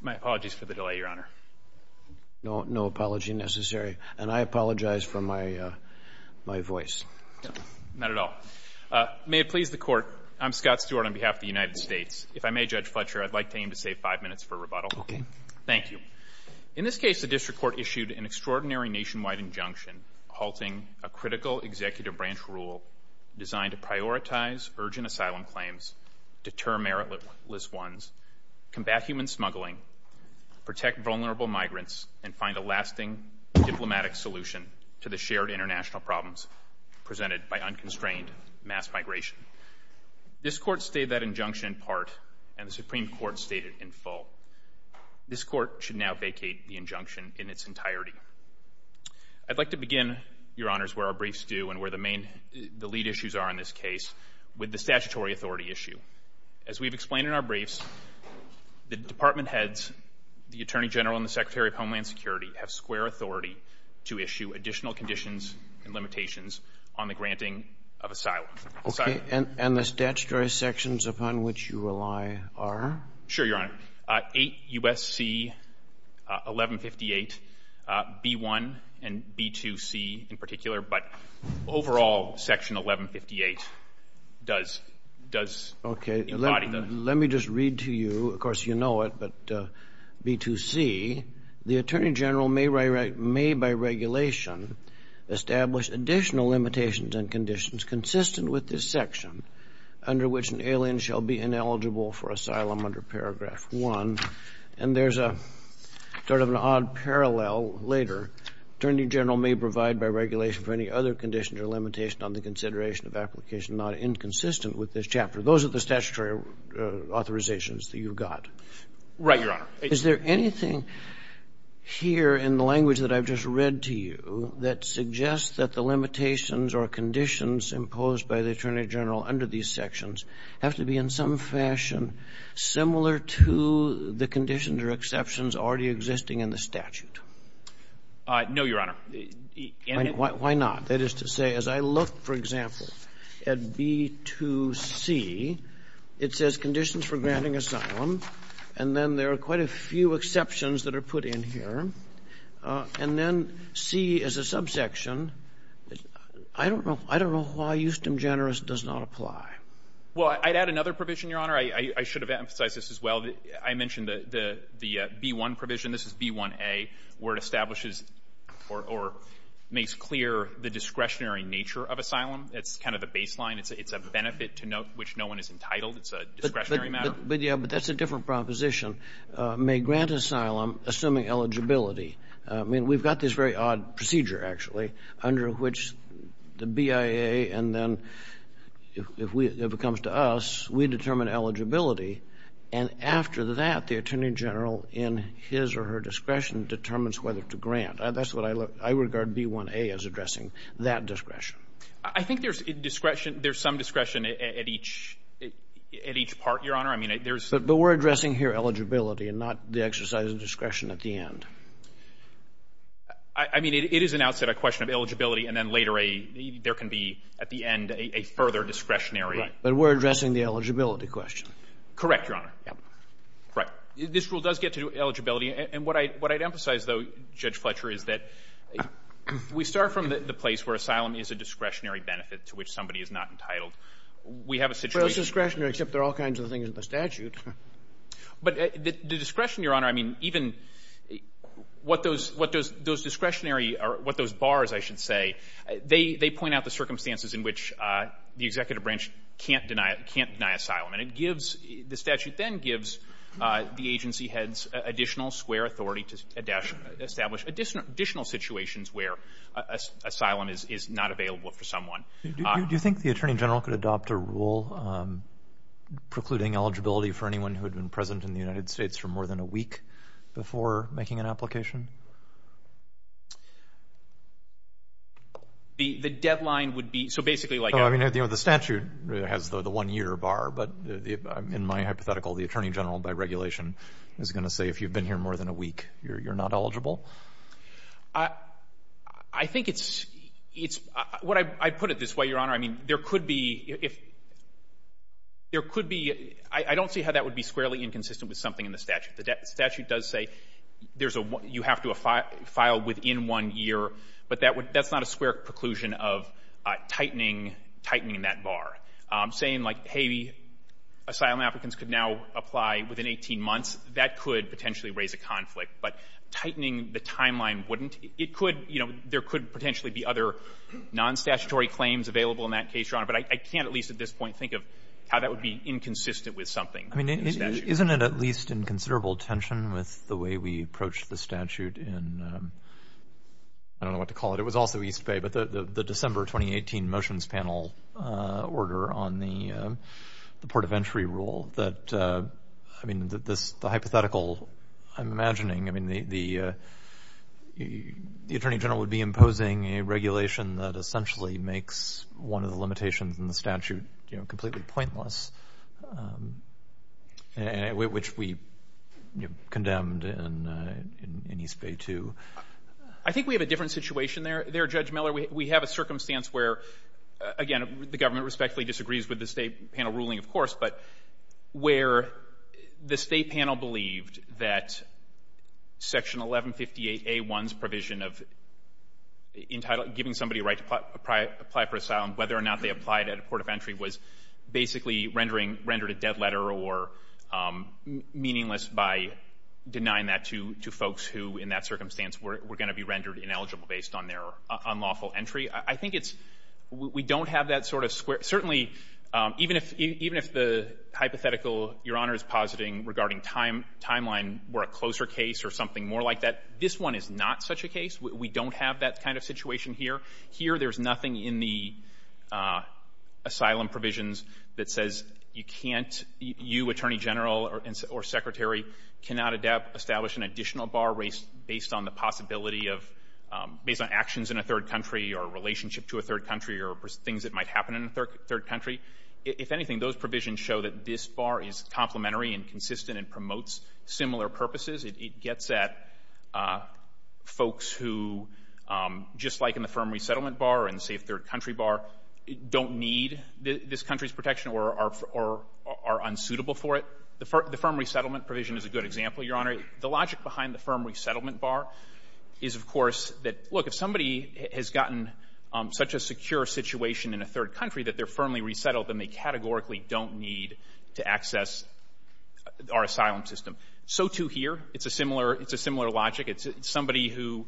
My apologies for the delay, Your Honor. No apology necessary. And I apologize for my voice. Not at all. May it please the Court, I'm Scott Stewart on behalf of the United States. If I may, Judge Fletcher, I'd like to aim to save five minutes for rebuttal. Okay. Thank you. In this case, the District Court issued an extraordinary nationwide injunction halting a critical executive branch rule designed to prioritize urgent asylum claims, deter meritless ones, combat human smuggling, protect vulnerable migrants, and find a lasting diplomatic solution to the shared international problems presented by unconstrained mass migration. This Court stayed that injunction in part and the Supreme Court stayed it in full. This Court should now vacate the injunction in its entirety. I'd like to begin, Your Honors, where our briefs do and where the lead issues are in this case with the statutory authority issue. As we've explained in our briefs, the department heads, the Attorney General and the Secretary of Homeland Security have square authority to issue additional conditions and limitations on the granting of asylum. Okay. And the statutory sections upon which you rely are? Sure, Your Honor. 8 U.S.C. 1158, B-1 and B-2C in particular, but overall, Section 1158 does... Okay, let me just read to you. Of course, you know it, but B-2C, the Attorney General may by regulation establish additional limitations and conditions consistent with this section under which an alien shall be ineligible for asylum under Paragraph 1. And there's sort of an odd parallel later. Attorney General may provide by regulation for any other conditions or limitation on the consideration of application not inconsistent with this chapter. Those are the statutory authorizations that you've got. Right, Your Honor. Is there anything here in the language that I've just read to you that suggests that the limitations or conditions imposed by the Attorney General under these sections have to be in some fashion similar to the conditions or exceptions already existing in the statute? No, Your Honor. Why not? That is to say, as I look, for example, at B-2C, it says conditions for granting asylum, and then there are quite a few exceptions that are put in here. And then C is a subsection. I don't know why eustem generis does not apply. Well, I'd add another provision, Your Honor. I should have emphasized this as well. I mentioned the B-1 provision. This is B-1A, where it establishes or makes clear the discretionary nature of asylum. It's kind of the baseline. It's a benefit to which no one is entitled. It's a discretionary matter. But, yeah, but that's a different proposition. May grant asylum assuming eligibility. I mean, we've got this very odd procedure, actually, under which the BIA and then if it comes to us, we determine eligibility, and after that the Attorney General in his or her discretion determines whether to grant. That's what I regard B-1A as addressing, that discretion. I think there's discretion. There's some discretion at each part, Your Honor. But we're addressing here eligibility and not the exercise of discretion at the end. I mean, it is an outset, a question of eligibility, and then later there can be at the end a further discretionary. But we're addressing the eligibility question. Correct, Your Honor. Right. This rule does get to eligibility. And what I'd emphasize, though, Judge Fletcher, is that we start from the place where asylum is a discretionary benefit to which somebody is not entitled. We have a situation... Well, it's discretionary, except there are all kinds of things in the statute. But the discretion, Your Honor, I mean, even what those discretionary or what those bars, I should say, they point out the circumstances in which the executive branch can't deny asylum. And it gives... The statute then gives the agency heads additional square authority to establish additional situations where asylum is not available for someone. Do you think the Attorney General could adopt a rule precluding eligibility for anyone who had been present in the United States for more than a week before making an application? The deadline would be... So basically, like... I mean, you know, the statute has the one-year bar, but in my hypothetical, the Attorney General, by regulation, is going to say if you've been here more than a week, you're not eligible? I think it's... I put it this way, Your Honor. I mean, there could be... There could be... I don't see how that would be squarely inconsistent with something in the statute. The statute does say you have to file within one year, but that's not a square preclusion of tightening that bar. Saying, like, hey, asylum applicants could now apply within 18 months, that could potentially raise a conflict, but tightening the timeline wouldn't. It could... You know, there could potentially be other non-statutory claims available in that case, Your Honor, but I can't at least at this point think of how that would be inconsistent with something in the statute. I mean, isn't it at least in considerable tension with the way we approach the statute in... I don't know what to call it. It was also East Bay, but the December 2018 motions panel order on the Port of Entry rule that, I mean, the hypothetical I'm imagining, I mean, the Attorney General would be imposing a regulation that essentially makes one of the limitations in the statute, you know, completely pointless, which we condemned in East Bay, too. I think we have a different situation there, Judge Miller. We have a circumstance where, again, the government respectfully disagrees with the state panel ruling, of course, but where the state panel believed that Section 1158A1's provision of giving somebody a right to apply for asylum, whether or not they applied at a Port of Entry, was basically rendered a dead letter or meaningless by denying that to folks who, in that circumstance, were going to be rendered ineligible based on their unlawful entry. I think it's we don't have that sort of square. Certainly, even if the hypothetical Your Honor is positing regarding timeline were a closer case or something more like that, this one is not such a case. We don't have that kind of situation here. Here, there's nothing in the asylum provisions that says you can't, you, Attorney General or Secretary, cannot establish an additional bar based on the possibility of, based on actions in a third country or a relationship to a third country or things that might happen in a third country. If anything, those provisions show that this bar is complementary and consistent and promotes similar purposes. It gets at folks who, just like in the firm resettlement bar and safe third country bar, don't need this country's protection or are unsuitable for it. The firm resettlement provision is a good example, Your Honor. The logic behind the firm resettlement bar is, of course, that look, if somebody has gotten such a secure situation in a third country that they're firmly resettled, then they categorically don't need to access our asylum system. So too here. It's a similar logic. Somebody who,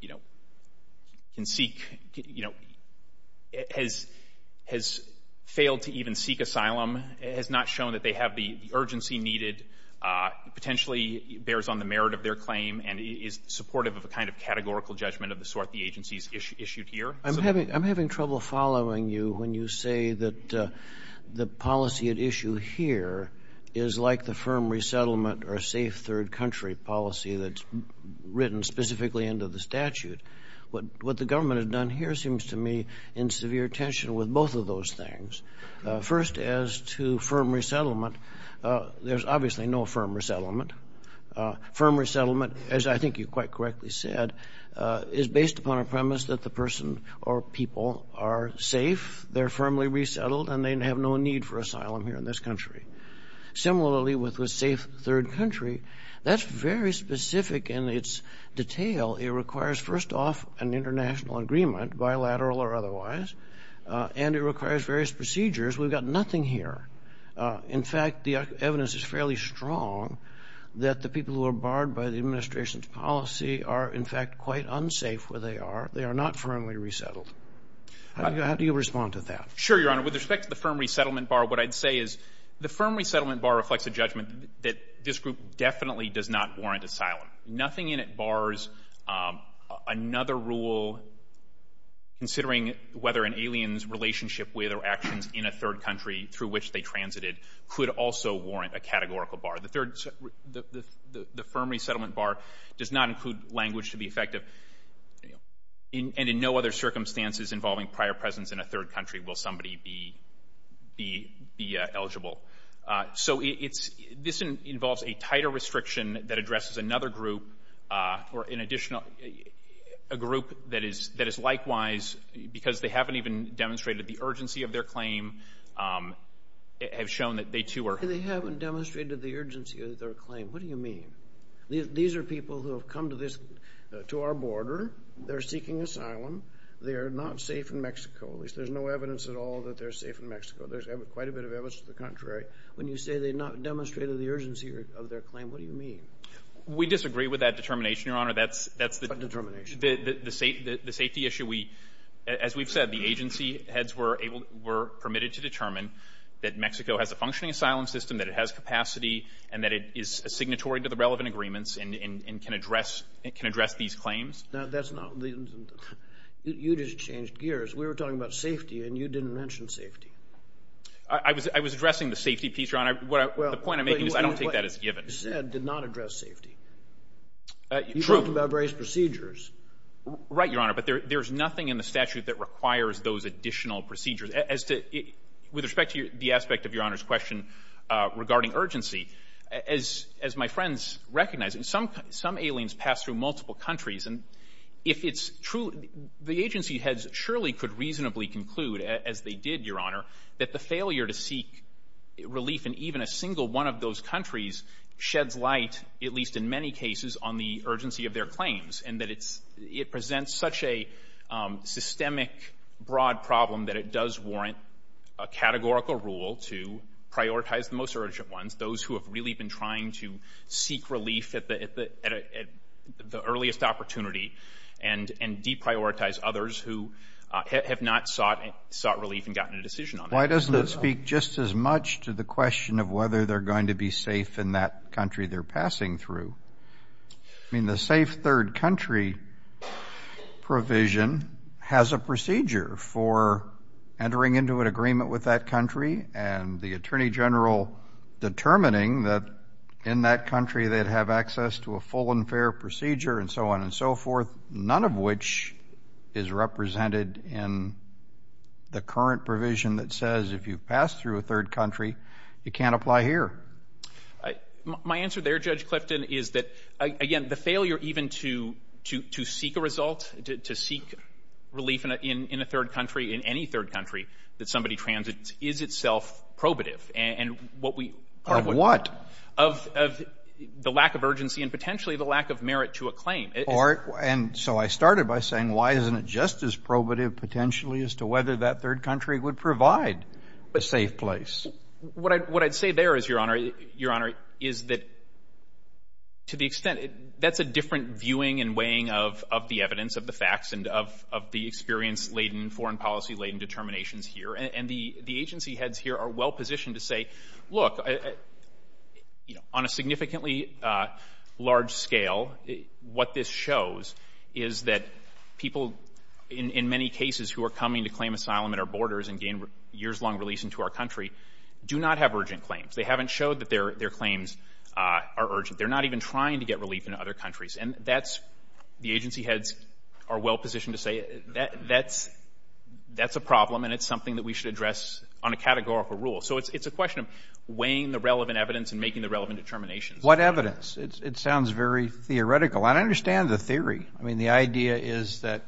you know, can seek, you know, has failed to even seek asylum has not shown that they have the urgency needed, potentially bears on the merit of their claim and is supportive of a kind of categorical judgment of the sort the agency's issued here. I'm having trouble following you when you say that the policy at issue here is like the firm resettlement or safe third country policy that's written specifically into the statute. What the government has done here seems to me in severe tension with both of those things. First, as to firm resettlement, there's obviously no firm resettlement. Firm resettlement, as I think you quite correctly said, is based upon a premise that the person or people are safe, they're firmly resettled, and they have no need for asylum here in this country. Similarly, with a safe third country, that's very specific in its detail. It requires first off an international agreement, bilateral or otherwise, and it requires various procedures. We've got nothing here. In fact, the evidence is fairly strong that the people who are barred by the administration's policy are in fact quite unsafe where they are. They are not firmly resettled. How do you respond to that? Sure, Your Honor. With respect to the firm resettlement bar, what I'd say is the firm resettlement bar reflects a judgment that this group definitely does not warrant asylum. Nothing in it bars another rule, considering whether an alien's relationship with or actions in a third country through which they transited could also warrant a categorical bar. The firm resettlement bar does not include language to be effective, and in no other circumstances involving prior presence in a third country will somebody be eligible. So this involves a tighter restriction that addresses another group or a group that is likewise, because they haven't even demonstrated the urgency of their claim, have shown that they too are... When you say they haven't demonstrated the urgency of their claim, what do you mean? These are people who have come to our border. They're seeking asylum. They are not safe in Mexico. There's no evidence at all that they're safe in Mexico. There's quite a bit of evidence to the contrary. When you say they've not demonstrated the urgency of their claim, what do you mean? We disagree with that determination, Your Honor. What determination? The safety issue. As we've said, the agency heads were permitted to determine that Mexico has a functioning asylum system, that it has capacity, and that it is signatory to the relevant agreements and can address these claims. Now, that's not... You just changed gears. We were talking about safety, and you didn't mention safety. I was addressing the safety piece, Your Honor. The point I'm making is I don't take that as given. What you said did not address safety. You talked about various procedures. Right, Your Honor, but there's nothing in the statute that requires those additional procedures. With respect to the aspect of Your Honor's question regarding urgency, as my friends recognize, some aliens pass through multiple countries, and if it's true, the agency heads surely could reasonably conclude, as they did, Your Honor, that the failure to seek relief in even a single one of those countries sheds light, at least in many cases, on the urgency of their claims and that it presents such a systemic, broad problem that it does warrant a categorical rule to prioritize the most urgent ones, those who have really been trying to seek relief at the earliest opportunity, and deprioritize others who have not sought relief and gotten a decision on that. Why doesn't it speak just as much to the question of whether they're going to be safe in that country they're passing through? I mean, the safe third country provision has a procedure for entering into an agreement with that country and the attorney general determining that in that country they'd have access to a full and fair procedure and so on and so forth, none of which is represented in the current provision that says if you pass through a third country, you can't apply here. My answer there, Judge Clifton, is that, again, the failure even to seek a result, to seek relief in a third country, in any third country, that somebody transits is itself probative. Of what? Of the lack of urgency and potentially the lack of merit to a claim. And so I started by saying, why isn't it just as probative potentially as to whether that third country would provide a safe place? What I'd say there is, Your Honor, is that to the extent that's a different viewing and weighing of the evidence, of the facts, and of the experience-laden, foreign policy-laden determinations here. And the agency heads here are well positioned to say, look, on a significantly large scale, what this shows is that people in many cases who are coming to claim asylum at our borders and gain years-long release into our country do not have urgent claims. They haven't showed that their claims are urgent. They're not even trying to get relief in other countries. And that's, the agency heads are well positioned to say, that's a problem and it's something that we should address on a categorical rule. So it's a question of weighing the relevant evidence and making the relevant determinations. What evidence? It sounds very theoretical. And I understand the theory. I mean, the idea is that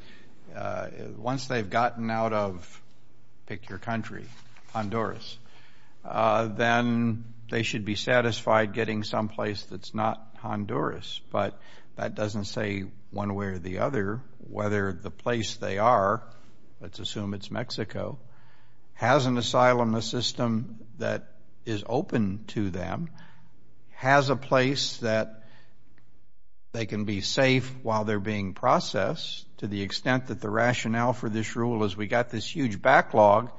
once they've gotten out of, pick your country, Honduras, then they should be satisfied getting someplace that's not Honduras. But that doesn't say one way or the other whether the place they are, let's assume it's Mexico, has an asylum system that is open to them, has a place that they can be safe while they're being processed. To the extent that the rationale for this rule is we've got this huge backlog,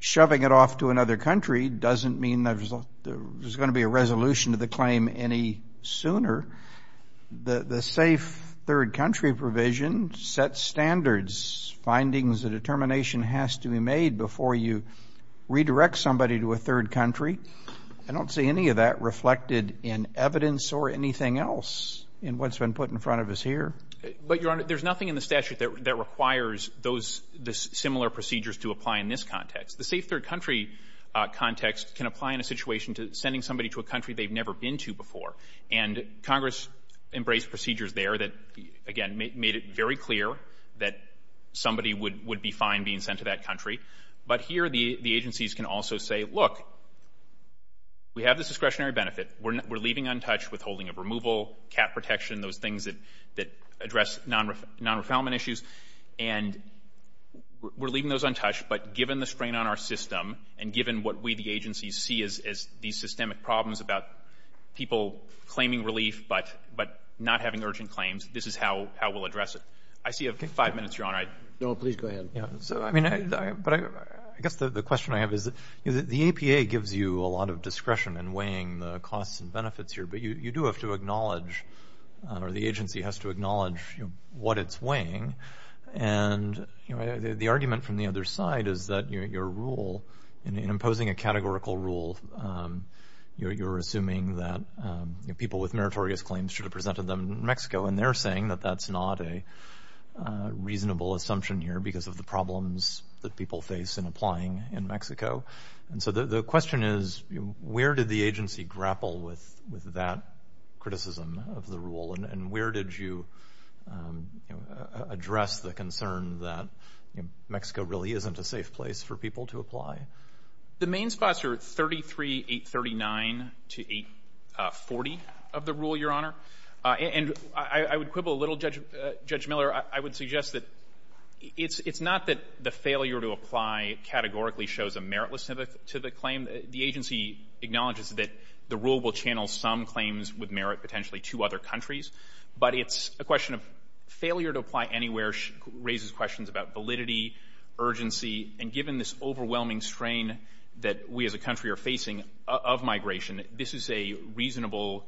shoving it off to another country doesn't mean there's going to be a resolution to the claim any sooner. The safe third-country provision sets standards, findings that a determination has to be made before you redirect somebody to a third country. I don't see any of that reflected in evidence or anything else in what's been put in front of us here. But, Your Honor, there's nothing in the statute that requires those similar procedures to apply in this context. The safe third-country context can apply in a situation to sending somebody to a country they've never been to before. And Congress embraced procedures there that, again, made it very clear that somebody would be fine being sent to that country. But here the agencies can also say, look, we have this discretionary benefit. We're leaving untouched withholding of removal, cap protection, those things that address non-refinement issues. And we're leaving those untouched, but given the strain on our system and given what we, the agencies, see as these systemic problems about people claiming relief but not having urgent claims, this is how we'll address it. I see you have five minutes, Your Honor. All right. No, please go ahead. So, I mean, but I guess the question I have is the APA gives you a lot of discretion in weighing the costs and benefits here, but you do have to acknowledge, or the agency has to acknowledge what it's weighing. And the argument from the other side is that your rule, in imposing a categorical rule, you're assuming that people with meritorious claims should have presented them in Mexico, and they're saying that that's not a reasonable assumption here because of the problems that people face in applying in Mexico. And so the question is where did the agency grapple with that criticism of the rule and where did you address the concern that Mexico really isn't a safe place for people to apply? The main spots are 33, 839 to 840 of the rule, Your Honor. And I would quibble a little, Judge Miller. I would suggest that it's not that the failure to apply categorically shows a meritlessness to the claim. The agency acknowledges that the rule will channel some claims with merit potentially to other countries, but it's a question of failure to apply anywhere raises questions about validity, urgency, and given this overwhelming strain that we as a country are facing of migration, this is a reasonable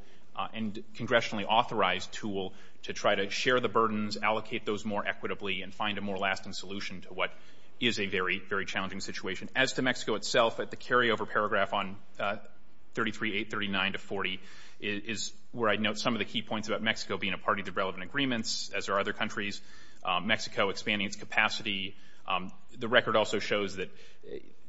and congressionally authorized tool to try to share the burdens, allocate those more equitably, and find a more lasting solution to what is a very, very challenging situation. As to Mexico itself, the carryover paragraph on 33, 839 to 840 is where I note some of the key points about Mexico being a party to relevant agreements, as are other countries, Mexico expanding its capacity. The record also shows that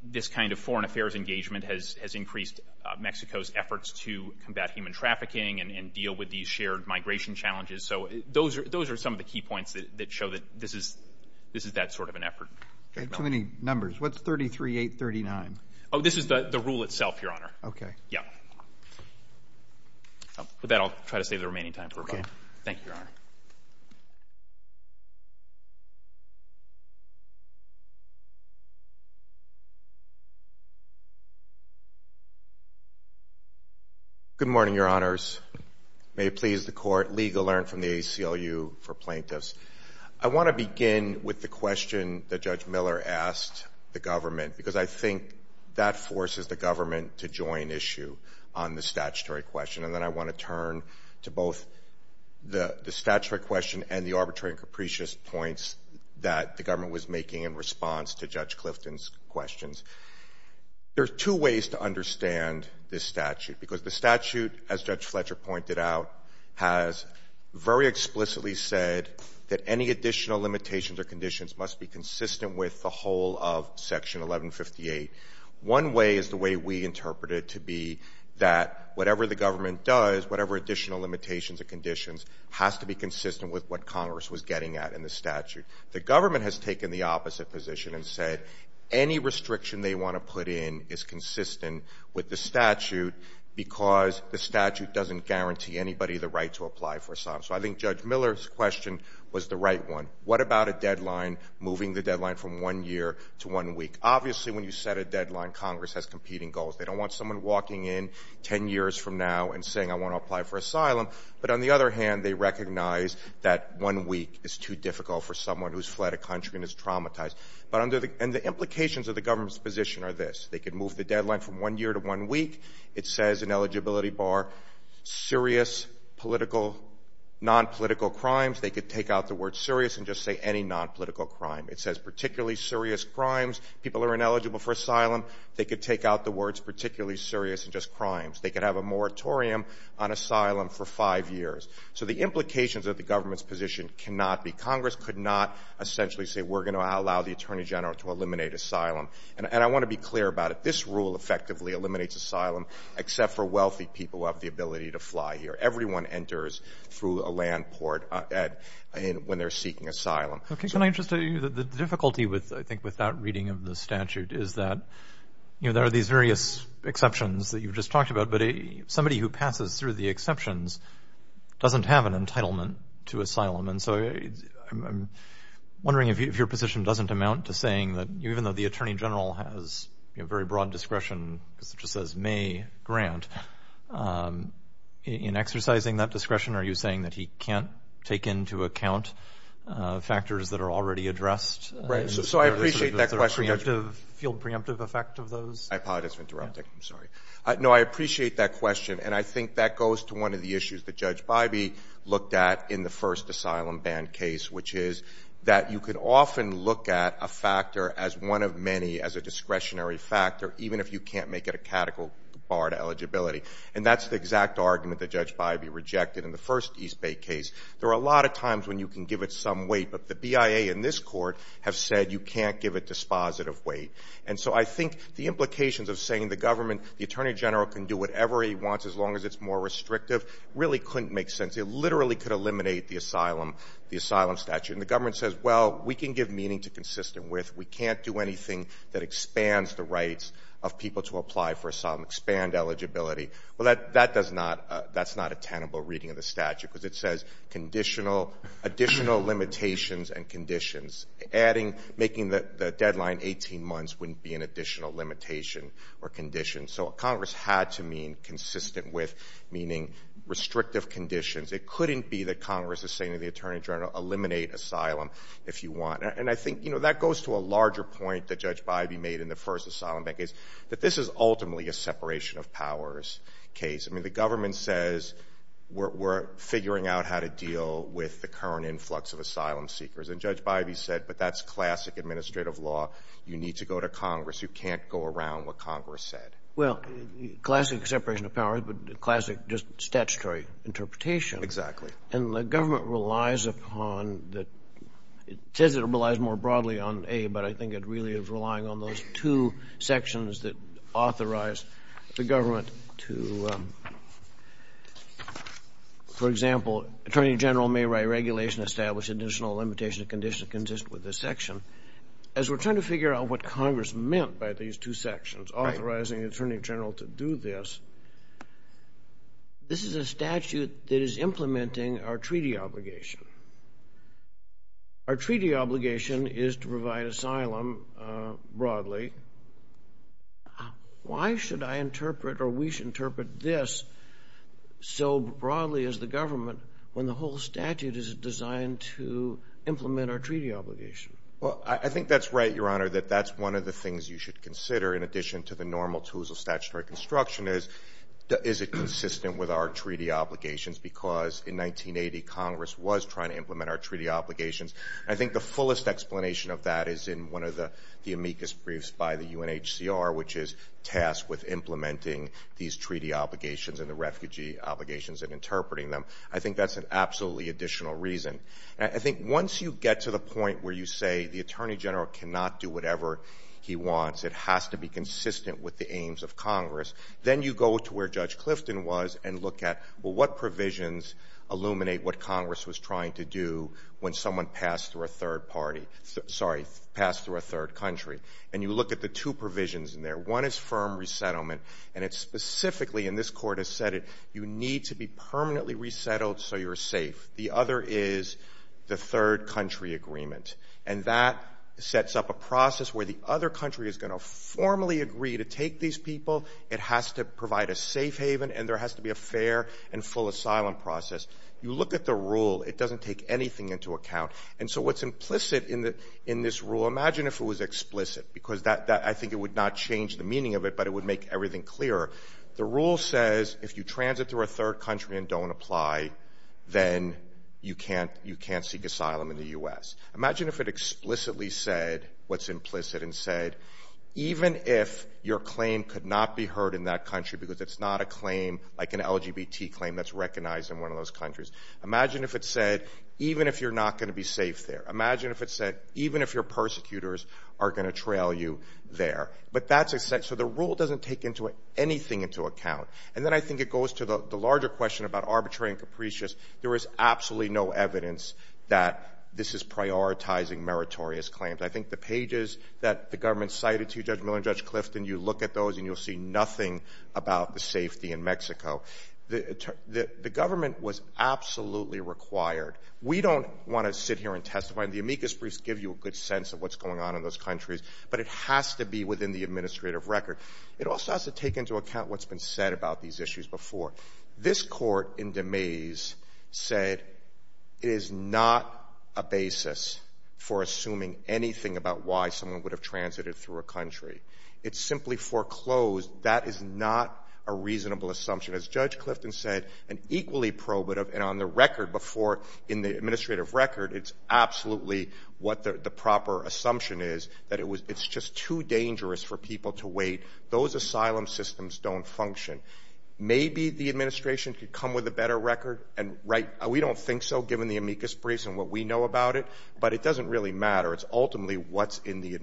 this kind of foreign affairs engagement has increased Mexico's efforts to combat human trafficking and deal with these shared migration challenges. So those are some of the key points that show that this is that sort of an effort. Too many numbers. What's 33, 839? Oh, this is the rule itself, Your Honor. Okay. Yeah. With that, I'll try to save the remaining time for a moment. Thank you, Your Honor. Good morning, Your Honors. May it please the Court, legal alert from the ACLU for plaintiffs. I want to begin with the question that Judge Miller asked the government because I think that forces the government to join issue on the statutory question, and then I want to turn to both the statutory question and the arbitrary and capricious points that the government was making in response to Judge Clifton's questions. There are two ways to understand this statute because the statute, as Judge Fletcher pointed out, has very explicitly said that any additional limitations or conditions must be consistent with the whole of Section 1158. One way is the way we interpret it to be that whatever the government does, whatever additional limitations or conditions, has to be consistent with what Congress was getting at in the statute. The government has taken the opposite position and said any restriction they want to put in is consistent with the statute because the statute doesn't guarantee anybody the right to apply for asylum. So I think Judge Miller's question was the right one. What about a deadline, moving the deadline from one year to one week? Obviously, when you set a deadline, Congress has competing goals. They don't want someone walking in 10 years from now and saying, I want to apply for asylum. But on the other hand, they recognize that one week is too difficult for someone who's fled a country and is traumatized. And the implications of the government's position are this. They could move the deadline from one year to one week. It says in Eligibility Bar, serious political, nonpolitical crimes. They could take out the word serious and just say any nonpolitical crime. It says particularly serious crimes. People who are ineligible for asylum, they could take out the words particularly serious and just crimes. They could have a moratorium on asylum for five years. So the implications of the government's position cannot be Congress could not essentially say we're going to allow the Attorney General to eliminate asylum. And I want to be clear about it. This rule effectively eliminates asylum, except for wealthy people who have the ability to fly here. Everyone enters through a land port when they're seeking asylum. Can I just tell you the difficulty, I think, with that reading of the statute is that there are these various exceptions that you've just talked about, and so I'm wondering if your position doesn't amount to saying that even though the Attorney General has very broad discretion, just as may grant, in exercising that discretion, are you saying that he can't take into account factors that are already addressed? Right. So I appreciate that question. Is there a field preemptive effect of those? I apologize for interrupting. I'm sorry. No, I appreciate that question. And I think that goes to one of the issues that Judge Bybee looked at in the first asylum ban case, which is that you can often look at a factor as one of many as a discretionary factor, even if you can't make it a catechal bar to eligibility. And that's the exact argument that Judge Bybee rejected in the first East Bay case. There are a lot of times when you can give it some weight, but the BIA and this court have said you can't give it dispositive weight. And so I think the implications of saying the government, the Attorney General can do whatever he wants as long as it's more restrictive, really couldn't make sense. It literally could eliminate the asylum statute. And the government says, well, we can give meaning to consistent with. We can't do anything that expands the rights of people to apply for asylum, expand eligibility. Well, that's not a tenable reading of the statute, because it says additional limitations and conditions. Adding, making the deadline 18 months wouldn't be an additional limitation or condition. So Congress had to mean consistent with, meaning restrictive conditions. It couldn't be that Congress is saying to the Attorney General, eliminate asylum if you want. And I think, you know, that goes to a larger point that Judge Bybee made in the first asylum ban case, that this is ultimately a separation of powers case. I mean, the government says we're figuring out how to deal with the current influx of asylum seekers. And Judge Bybee said, but that's classic administrative law. You need to go to Congress. You can't go around what Congress said. Well, classic separation of powers, but classic just statutory interpretation. Exactly. And the government relies upon the, it says it relies more broadly on A, but I think it really is relying on those two sections that authorize the government to, for example, Attorney General may write regulation establishing additional limitations and conditions consistent with this section. As we're trying to figure out what Congress meant by these two sections, authorizing the Attorney General to do this, this is a statute that is implementing our treaty obligation. Our treaty obligation is to provide asylum broadly. Why should I interpret or we should interpret this so broadly as the government when the whole statute is designed to implement our treaty obligation? Well, I think that's right, Your Honor, that that's one of the things you should consider in addition to the normal tools of statutory construction is, is it consistent with our treaty obligations because in 1980, Congress was trying to implement our treaty obligations. I think the fullest explanation of that is in one of the amicus briefs by the UNHCR, which is tasked with implementing these treaty obligations and the refugee obligations and interpreting them. I think that's an absolutely additional reason. I think once you get to the point where you say the Attorney General cannot do whatever he wants, it has to be consistent with the aims of Congress, then you go to where Judge Clifton was and look at, well, what provisions illuminate what Congress was trying to do when someone passed through a third party, sorry, passed through a third country, and you look at the two provisions in there. One is firm resettlement, and it's specifically, and this Court has said it, you need to be permanently resettled so you're safe. The other is the third country agreement, and that sets up a process where the other country is going to formally agree to take these people. It has to provide a safe haven, and there has to be a fair and full asylum process. You look at the rule. It doesn't take anything into account. And so what's implicit in this rule, imagine if it was explicit, because I think it would not change the meaning of it, but it would make everything clearer. The rule says if you transit through a third country and don't apply, then you can't seek asylum in the U.S. Imagine if it explicitly said what's implicit and said, even if your claim could not be heard in that country because it's not a claim like an LGBT claim that's recognized in one of those countries. Imagine if it said, even if you're not going to be safe there. Imagine if it said, even if your persecutors are going to trail you there. So the rule doesn't take anything into account. And then I think it goes to the larger question about arbitrary and capricious. There is absolutely no evidence that this is prioritizing meritorious claims. I think the pages that the government cited to you, Judge Miller and Judge Clifton, you look at those and you'll see nothing about the safety in Mexico. The government was absolutely required. We don't want to sit here and testify. The amicus briefs give you a good sense of what's going on in those countries, but it has to be within the administrative record. It also has to take into account what's been said about these issues before. This court in Demese said it is not a basis for assuming anything about why someone would have transited through a country. It simply foreclosed. That is not a reasonable assumption. As Judge Clifton said, an equally probative and on the record before, in the administrative record, it's absolutely what the proper assumption is, that it's just too dangerous for people to wait. Those asylum systems don't function. Maybe the administration could come with a better record, and we don't think so given the amicus briefs and what we know about it, but it doesn't really matter. It's ultimately what's in the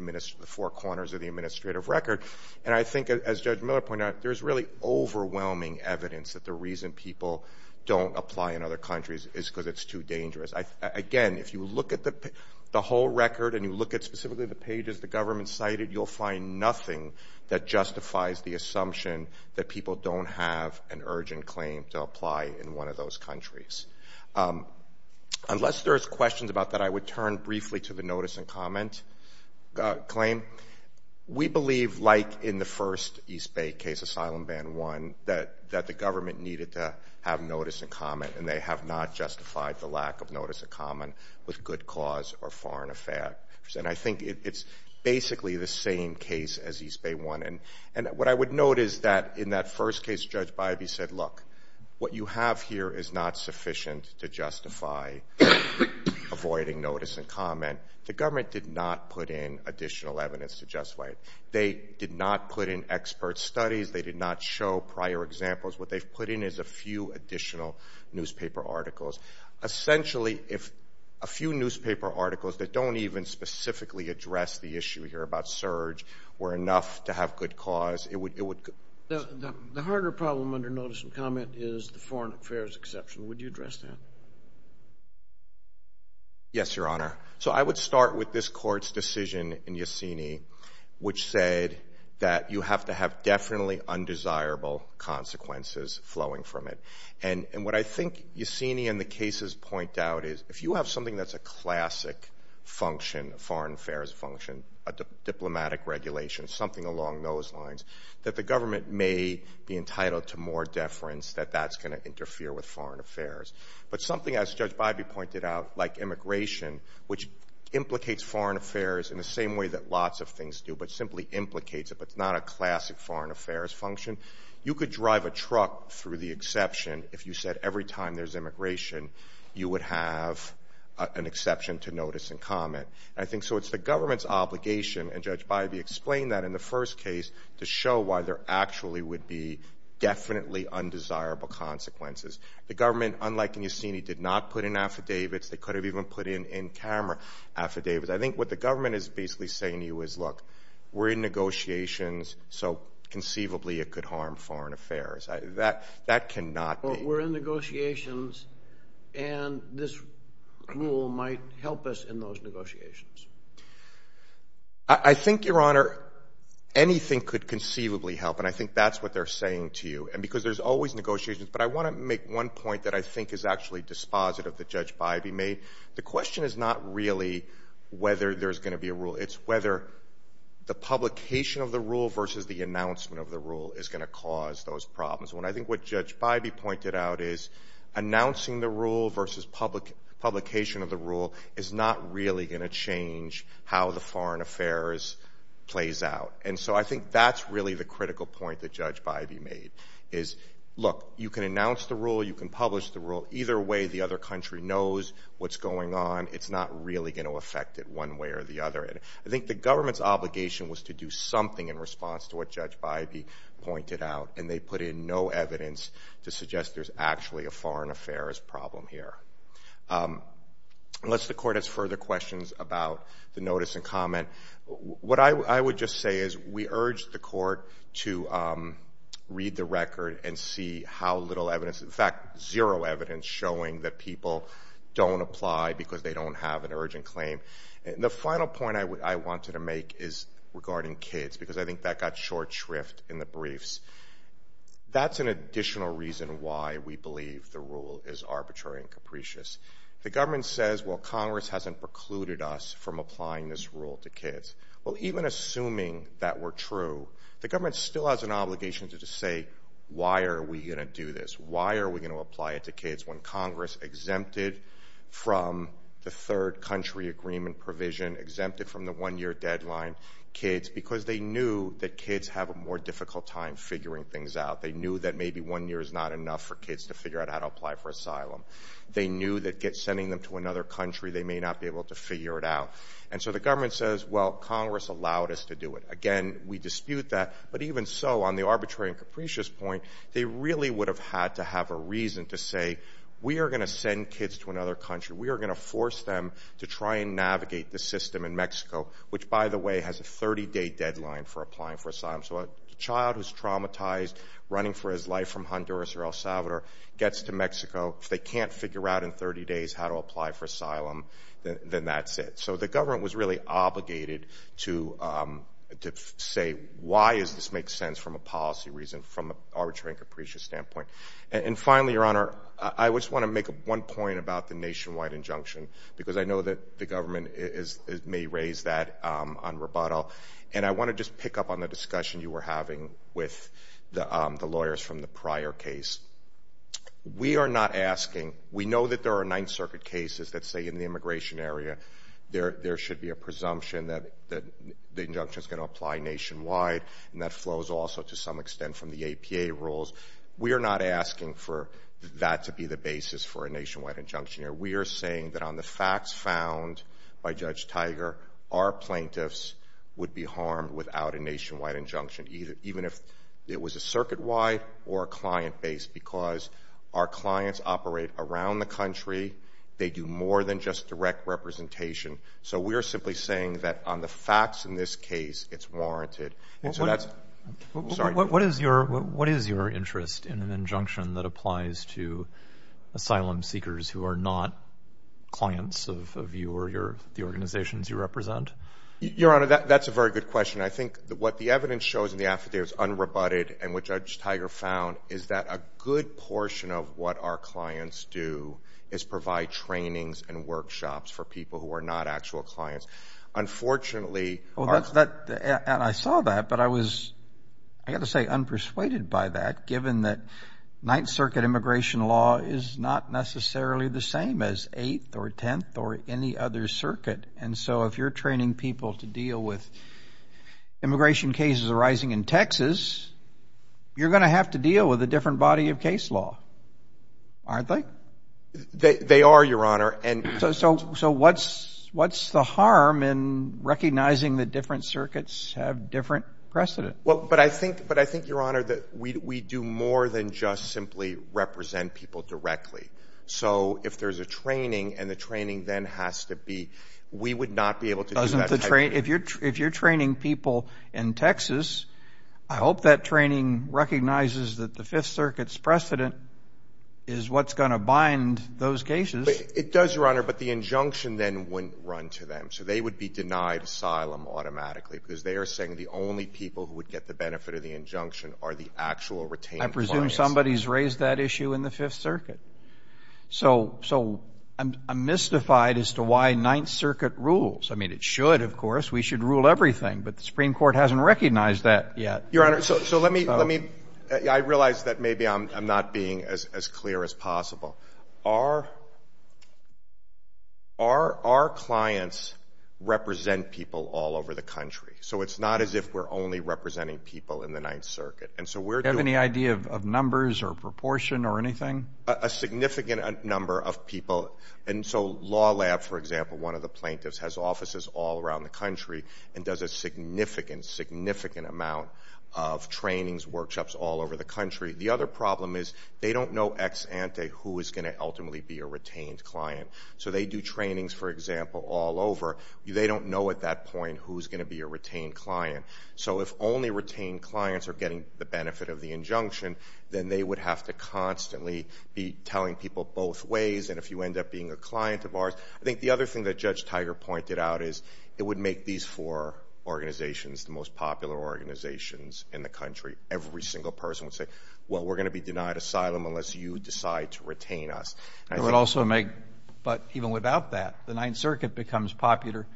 four corners of the administrative record. I think, as Judge Miller pointed out, there's really overwhelming evidence that the reason people don't apply in other countries is because it's too dangerous. Again, if you look at the whole record and you look at specifically the pages the government cited, you'll find nothing that justifies the assumption that people don't have an urgent claim to apply in one of those countries. Unless there's questions about that, I would turn briefly to the notice and comment claim. We believe, like in the first East Bay case, Asylum Ban 1, that the government needed to have notice and comment, and they have not justified the lack of notice and comment with good cause or foreign effect. I think it's basically the same case as East Bay 1. What I would note is that in that first case, Judge Bybee said, look, what you have here is not sufficient to justify avoiding notice and comment. The government did not put in additional evidence to justify it. They did not put in expert studies. They did not show prior examples. What they've put in is a few additional newspaper articles. Essentially, if a few newspaper articles that don't even specifically address the issue here about surge were enough to have good cause, it would. The harder problem under notice and comment is the foreign affairs exception. Would you address that? Yes, Your Honor. So I would start with this court's decision in Yesenia, which said that you have to have definitely undesirable consequences flowing from it. And what I think Yesenia and the cases point out is if you have something that's a classic function, a foreign affairs function, a diplomatic regulation, something along those lines, that the government may be entitled to more deference that that's going to interfere with foreign affairs. But something, as Judge Bybee pointed out, like immigration, which implicates foreign affairs in the same way that lots of things do, but simply implicates it but is not a classic foreign affairs function, you could drive a truck through the exception if you said every time there's immigration you would have an exception to notice and comment. And I think so it's the government's obligation, and Judge Bybee explained that in the first case, to show why there actually would be definitely undesirable consequences. The government, unlike in Yesenia, did not put in affidavits. They could have even put in in-camera affidavits. I think what the government is basically saying to you is, look, we're in negotiations, so conceivably it could harm foreign affairs. That cannot be. But we're in negotiations, and this rule might help us in those negotiations. I think, Your Honor, anything could conceivably help, and I think that's what they're saying to you. And because there's always negotiations. But I want to make one point that I think is actually dispositive that Judge Bybee made. The question is not really whether there's going to be a rule. It's whether the publication of the rule versus the announcement of the rule is going to cause those problems. And I think what Judge Bybee pointed out is announcing the rule versus publication of the rule is not really going to change how the foreign affairs plays out. And so I think that's really the critical point that Judge Bybee made is, look, you can announce the rule, you can publish the rule, either way the other country knows what's going on. It's not really going to affect it one way or the other. I think the government's obligation was to do something in response to what Judge Bybee pointed out, and they put in no evidence to suggest there's actually a foreign affairs problem here. Unless the Court has further questions about the notice and comment, what I would just say is we urge the Court to read the record and see how little evidence, in fact, zero evidence showing that people don't apply because they don't have an urgent claim. The final point I wanted to make is regarding kids, because I think that got short shrift in the briefs. That's an additional reason why we believe the rule is arbitrary and capricious. The government says, well, Congress hasn't precluded us from applying this rule to kids. Well, even assuming that were true, the government still has an obligation to just say, why are we going to do this? Why are we going to apply it to kids? When Congress exempted from the third country agreement provision, exempted from the one-year deadline, kids, because they knew that kids have a more difficult time figuring things out. They knew that maybe one year is not enough for kids to figure out how to apply for asylum. They knew that sending them to another country, they may not be able to figure it out. And so the government says, well, Congress allowed us to do it. Again, we dispute that. But even so, on the arbitrary and capricious point, they really would have had to have a reason to say, we are going to send kids to another country. We are going to force them to try and navigate the system in Mexico, which, by the way, has a 30-day deadline for applying for asylum. So a child who's traumatized, running for his life from Honduras or El Salvador, gets to Mexico. If they can't figure out in 30 days how to apply for asylum, then that's it. So the government was really obligated to say, why does this make sense from a policy reason, from an arbitrary and capricious standpoint. And finally, Your Honor, I just want to make one point about the nationwide injunction, because I know that the government may raise that on rebuttal. And I want to just pick up on the discussion you were having with the lawyers from the prior case. We are not asking, we know that there are Ninth Circuit cases that say in the immigration area there should be a presumption that the injunction is going to apply nationwide, and that flows also to some extent from the APA rules. We are not asking for that to be the basis for a nationwide injunction. We are saying that on the facts found by Judge Tiger, our plaintiffs would be harmed without a nationwide injunction, even if it was a circuit-wide or a client-based, because our clients operate around the country. They do more than just direct representation. So we are simply saying that on the facts in this case, it's warranted. What is your interest in an injunction that applies to asylum seekers who are not clients of you or the organizations you represent? Your Honor, that's a very good question. I think what the evidence shows in the affidavit is unrebutted, and what Judge Tiger found is that a good portion of what our clients do is provide trainings and workshops for people who are not actual clients. Unfortunately— And I saw that, but I was, I've got to say, unpersuaded by that, given that Ninth Circuit immigration law is not necessarily the same as Eighth or Tenth or any other circuit. And so if you're training people to deal with immigration cases arising in Texas, you're going to have to deal with a different body of case law, aren't they? They are, Your Honor. So what's the harm in recognizing that different circuits have different precedents? But I think, Your Honor, that we do more than just simply represent people directly. So if there's a training and the training then has to be—we would not be able to do that type of thing. If you're training people in Texas, I hope that training recognizes that the Fifth Circuit's precedent is what's going to bind those cases. It does, Your Honor, but the injunction then wouldn't run to them. So they would be denied asylum automatically because they are saying the only people who would get the benefit of the injunction are the actual retained clients. Somebody's raised that issue in the Fifth Circuit. So I'm mystified as to why Ninth Circuit rules. I mean, it should, of course. We should rule everything, but the Supreme Court hasn't recognized that yet. Your Honor, so let me—I realize that maybe I'm not being as clear as possible. Our clients represent people all over the country. So it's not as if we're only representing people in the Ninth Circuit. Do you have any idea of numbers or proportion or anything? A significant number of people. And so Law Lab, for example, one of the plaintiffs, has offices all around the country and does a significant, significant amount of trainings, workshops all over the country. The other problem is they don't know ex ante who is going to ultimately be a retained client. So they do trainings, for example, all over. They don't know at that point who is going to be a retained client. So if only retained clients are getting the benefit of the injunction, then they would have to constantly be telling people both ways. And if you end up being a client of ours—I think the other thing that Judge Tiger pointed out is it would make these four organizations the most popular organizations in the country. Every single person would say, well, we're going to be denied asylum unless you decide to retain us. It would also make—but even without that, the Ninth Circuit becomes popular.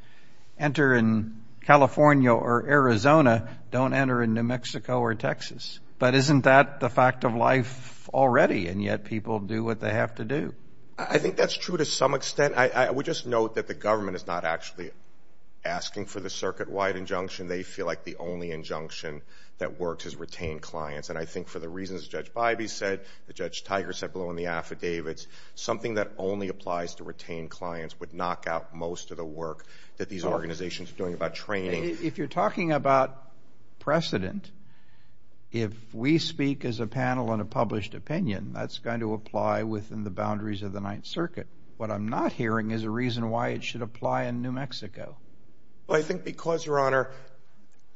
Enter in California or Arizona, don't enter in New Mexico or Texas. But isn't that the fact of life already? And yet people do what they have to do. I think that's true to some extent. I would just note that the government is not actually asking for the circuit-wide injunction. They feel like the only injunction that works is retained clients. And I think for the reasons Judge Bybee said, that Judge Tiger said below in the affidavits, something that only applies to retained clients would knock out most of the work that these organizations are doing about training. If you're talking about precedent, if we speak as a panel on a published opinion, that's going to apply within the boundaries of the Ninth Circuit. What I'm not hearing is a reason why it should apply in New Mexico. Well, I think because, Your Honor,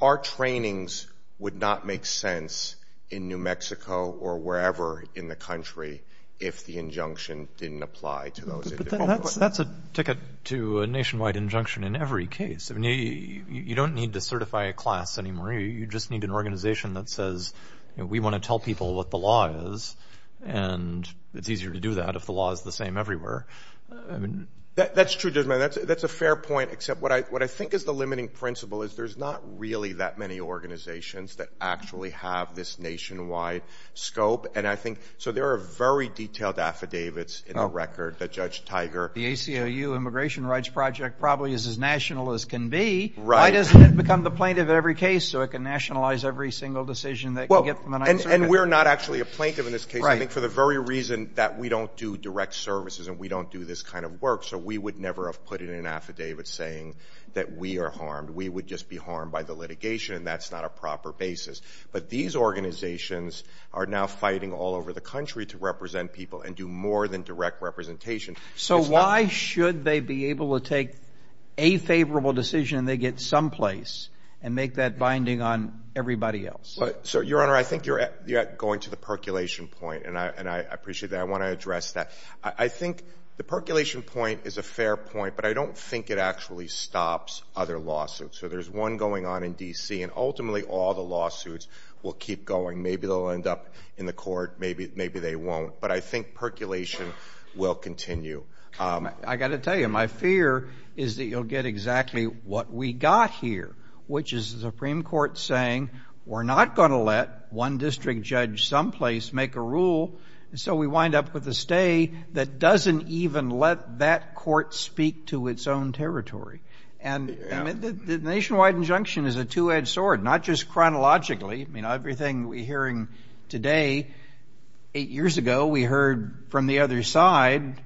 our trainings would not make sense in New Mexico or wherever in the country if the injunction didn't apply to those in New Mexico. But that's a ticket to a nationwide injunction in every case. You don't need to certify a class anymore. You just need an organization that says, we want to tell people what the law is, and it's easier to do that if the law is the same everywhere. That's true, Judge Maynard. That's a fair point, except what I think is the limiting principle is there's not really that many organizations that actually have this nationwide scope. So there are very detailed affidavits in the record that Judge Tiger The ACLU Immigration Rights Project probably is as national as can be. Why doesn't it become the plaintiff in every case so it can nationalize every single decision that you get from the Ninth Circuit? And we're not actually a plaintiff in this case, I think, for the very reason that we don't do direct services and we don't do this kind of work. So we would never have put in an affidavit saying that we are harmed. We would just be harmed by the litigation, and that's not a proper basis. But these organizations are now fighting all over the country to represent people and do more than direct representation. So why should they be able to take a favorable decision and they get someplace and make that binding on everybody else? Your Honor, I think you're going to the percolation point, and I appreciate that. I want to address that. I think the percolation point is a fair point, but I don't think it actually stops other lawsuits. So there's one going on in D.C., and ultimately all the lawsuits will keep going. Maybe they'll end up in the court, maybe they won't. But I think percolation will continue. I've got to tell you, my fear is that you'll get exactly what we got here, which is the Supreme Court saying we're not going to let one district judge someplace make a rule, and so we wind up with a stay that doesn't even let that court speak to its own territory. And the nationwide injunction is a two-edged sword, not just chronologically. I mean, everything we're hearing today, eight years ago we heard from the other side.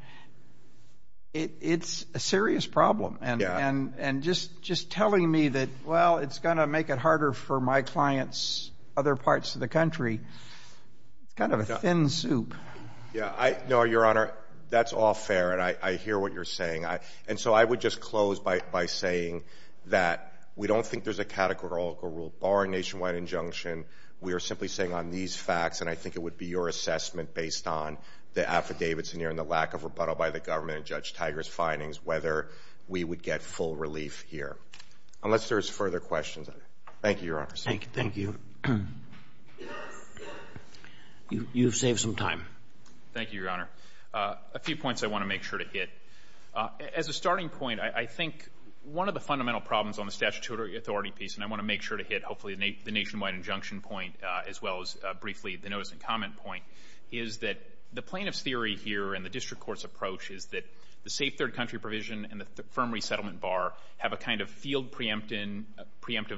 It's a serious problem. And just telling me that, well, it's going to make it harder for my clients, other parts of the country, kind of a thin soup. No, Your Honor, that's all fair, and I hear what you're saying. And so I would just close by saying that we don't think there's a categorical rule. Barring nationwide injunction, we are simply saying on these facts, and I think it would be your assessment based on the affidavits in here and the lack of rebuttal by the government and Judge Tiger's findings, whether we would get full relief here, unless there's further questions. Thank you, Your Honors. Thank you. You've saved some time. Thank you, Your Honor. A few points I want to make sure to hit. As a starting point, I think one of the fundamental problems on the statutory authority piece, and I want to make sure to hit hopefully the nationwide injunction point as well as briefly the notice and comment point, is that the plaintiff's theory here and the district court's approach is that the safe third country provision and the firm resettlement bar have a kind of field preemptive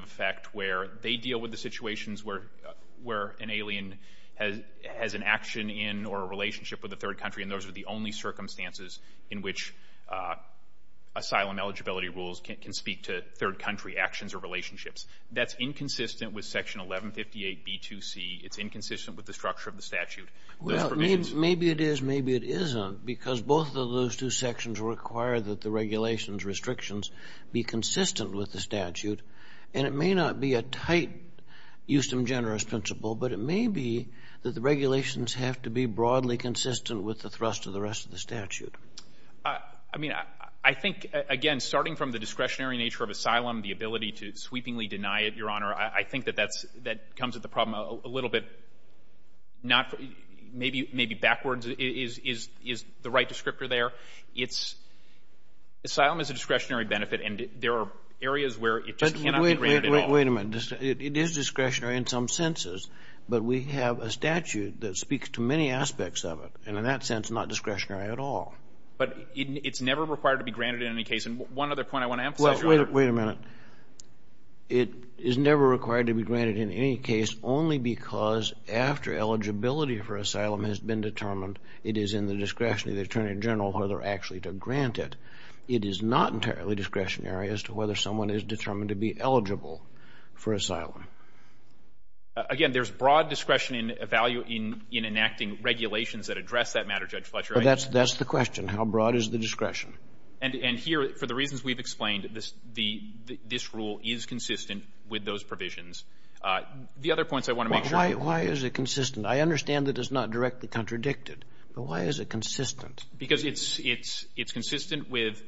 effect where they deal with the situations where an alien has an action in or a relationship with a third country, and those are the only circumstances in which asylum eligibility rules can speak to third country actions or relationships. That's inconsistent with Section 1158B2C. It's inconsistent with the structure of the statute. Well, maybe it is, maybe it isn't, because both of those two sections require that the regulations restrictions be consistent with the statute, and it may not be a tight Euston Generous principle, but it may be that the regulations have to be broadly consistent with the thrust of the rest of the statute. I mean, I think, again, starting from the discretionary nature of asylum, the ability to sweepingly deny it, Your Honor, I think that that comes at the problem a little bit maybe backwards is the right descriptor there. Asylum is a discretionary benefit, and there are areas where it just cannot be granted at all. Wait a minute. It is discretionary in some senses, but we have a statute that speaks to many aspects of it, and in that sense not discretionary at all. But it's never required to be granted in any case, and one other point I want to emphasize, Your Honor. Well, wait a minute. It is never required to be granted in any case only because after eligibility for asylum has been determined, it is in the discretion of the attorney general whether actually to grant it. It is not entirely discretionary as to whether someone is determined to be eligible for asylum. Again, there's broad discretion in enacting regulations that address that matter, Judge Fletcher. That's the question. How broad is the discretion? And here, for the reasons we've explained, this rule is consistent with those provisions. The other points I want to make sure of. Why is it consistent? I understand that it's not directly contradicted, but why is it consistent? Because it's consistent with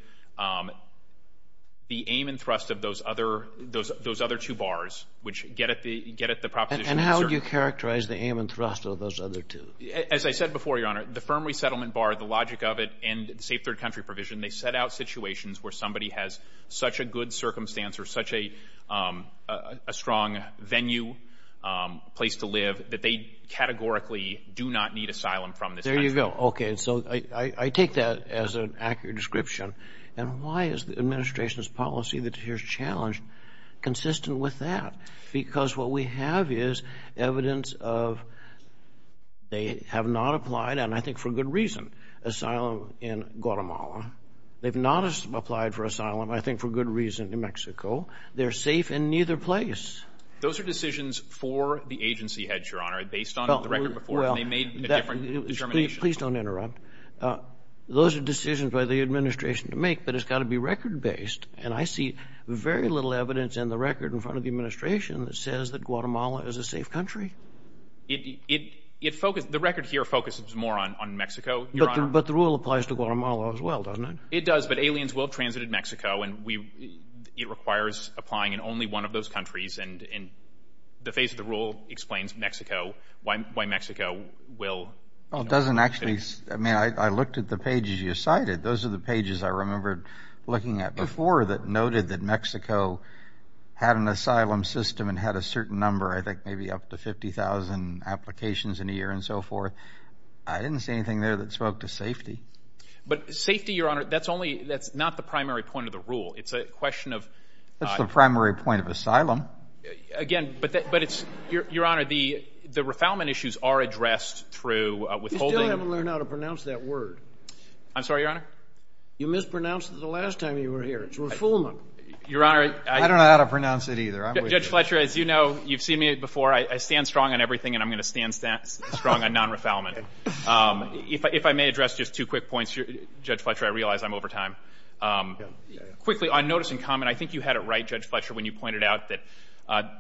the aim and thrust of those other two bars, which get at the proposition. And how do you characterize the aim and thrust of those other two? As I said before, Your Honor, the firm resettlement bar, the logic of it, and the safe third country provision, where somebody has such a good circumstance or such a strong venue, place to live, that they categorically do not need asylum from this country. There you go. Okay, so I take that as an accurate description. And why is the administration's policy that's here challenged consistent with that? Because what we have is evidence of they have not applied, and I think for good reason, asylum in Guatemala. They've not applied for asylum, I think for good reason, in Mexico. They're safe in neither place. Those are decisions for the agency heads, Your Honor, based on the record before, and they made a different determination. Please don't interrupt. Those are decisions by the administration to make, but it's got to be record-based. And I see very little evidence in the record in front of the administration that says that Guatemala is a safe country. The record here focuses more on Mexico, Your Honor. But the rule applies to Guatemala as well, doesn't it? It does, but aliens will transit in Mexico, and it requires applying in only one of those countries. And the face of the rule explains Mexico, why Mexico will. Well, it doesn't actually. I mean, I looked at the pages you cited. Those are the pages I remember looking at before that noted that Mexico had an asylum system and had a certain number, I think maybe up to 50,000 applications in a year and so forth. I didn't see anything there that spoke to safety. But safety, Your Honor, that's not the primary point of the rule. It's a question of— That's the primary point of asylum. Again, but it's—Your Honor, the refoulement issues are addressed through withholding— You still haven't learned how to pronounce that word. I'm sorry, Your Honor? You mispronounced it the last time you were here. It's refoulement. I don't know how to pronounce it either. Judge Fletcher, as you know, you've seen me before. I stand strong on everything, and I'm going to stand strong on non-refoulement. If I may address just two quick points, Judge Fletcher, I realize I'm over time. Quickly, on notice and comment, I think you had it right, Judge Fletcher, when you pointed out that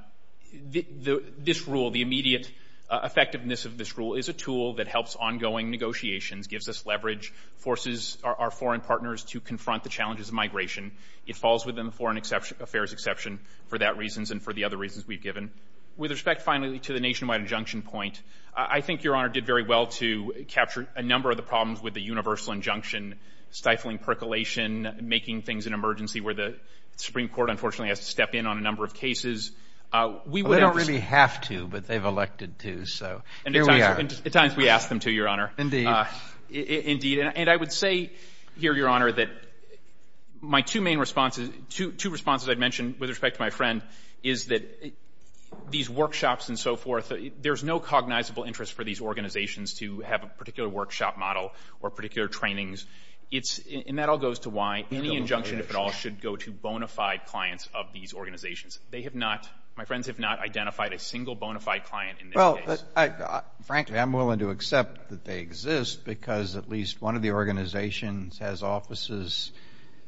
this rule, the immediate effectiveness of this rule, is a tool that helps ongoing negotiations, gives us leverage, forces our foreign partners to confront the challenges of migration. It falls within the foreign affairs exception for that reason and for the other reasons we've given. With respect, finally, to the nationwide injunction point, I think Your Honor did very well to capture a number of the problems with the universal injunction, stifling percolation, making things an emergency where the Supreme Court, unfortunately, has to step in on a number of cases. They don't really have to, but they've elected to, so here we are. At times we ask them to, Your Honor. Indeed. Indeed. And I would say here, Your Honor, that my two main responses— with respect to my friend—is that these workshops and so forth, there's no cognizable interest for these organizations to have a particular workshop model or particular trainings. And that all goes to why any injunction, if at all, should go to bona fide clients of these organizations. They have not—my friends have not identified a single bona fide client in this case. Well, frankly, I'm willing to accept that they exist because at least one of the organizations has offices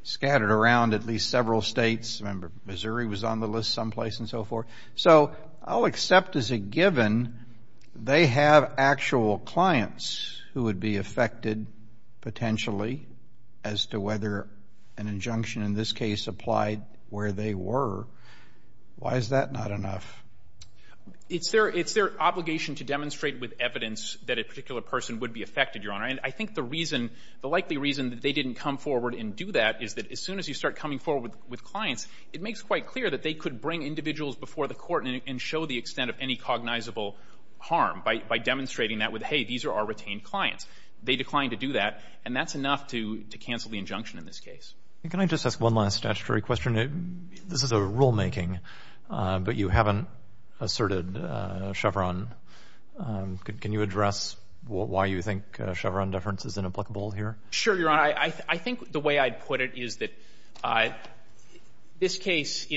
scattered around at least several states. I remember Missouri was on the list someplace and so forth. So I'll accept as a given they have actual clients who would be affected potentially as to whether an injunction in this case applied where they were. Why is that not enough? It's their obligation to demonstrate with evidence that a particular person would be affected, Your Honor. And I think the reason—the likely reason that they didn't come forward and do that is that as soon as you start coming forward with clients, it makes quite clear that they could bring individuals before the court and show the extent of any cognizable harm by demonstrating that with, hey, these are our retained clients. They declined to do that, and that's enough to cancel the injunction in this case. Can I just ask one last statutory question? This is a rulemaking, but you haven't asserted Chevron. Can you address why you think Chevron deference is inapplicable here? Sure, Your Honor. I think the way I'd put it is that this case,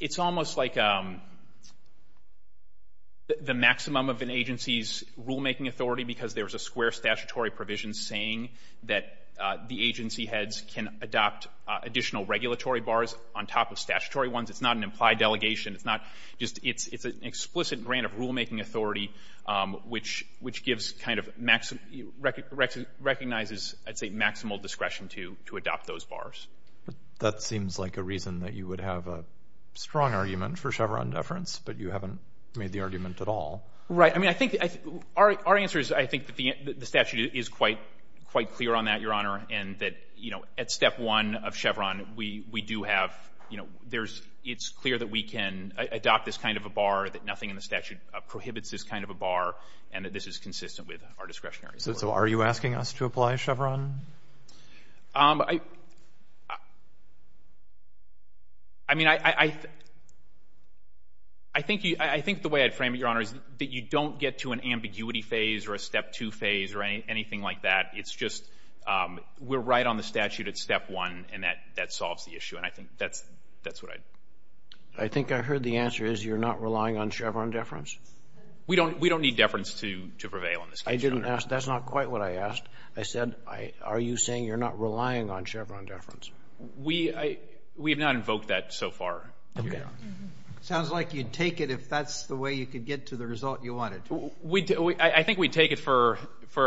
it's almost like the maximum of an agency's rulemaking authority because there's a square statutory provision saying that the agency heads can adopt additional regulatory bars on top of statutory ones. It's not an implied delegation. It's not just—it's an explicit grant of rulemaking authority, which gives kind of—recognizes, I'd say, maximal discretion to adopt those bars. That seems like a reason that you would have a strong argument for Chevron deference, but you haven't made the argument at all. Right. I mean, I think—our answer is I think that the statute is quite clear on that, Your Honor, and that at step one of Chevron, we do have—it's clear that we can adopt this kind of a bar, that nothing in the statute prohibits this kind of a bar, and that this is consistent with our discretionary authority. So are you asking us to apply Chevron? I mean, I think the way I'd frame it, Your Honor, is that you don't get to an ambiguity phase or a step two phase or anything like that. It's just we're right on the statute at step one, and that solves the issue, and I think that's what I'd— I think I heard the answer is you're not relying on Chevron deference? We don't need deference to prevail in this case, Your Honor. I didn't ask—that's not quite what I asked. I said are you saying you're not relying on Chevron deference? We have not invoked that so far, Your Honor. Okay. It sounds like you'd take it if that's the way you could get to the result you wanted. I think we'd take it for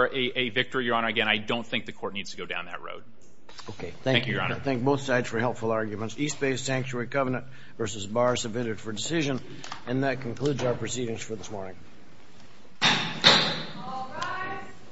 a victory, Your Honor. Again, I don't think the court needs to go down that road. Thank you, Your Honor. Thank you. I thank both sides for helpful arguments. East Bay Sanctuary Covenant v. Bar submitted for decision. And that concludes our proceedings for this morning. All rise.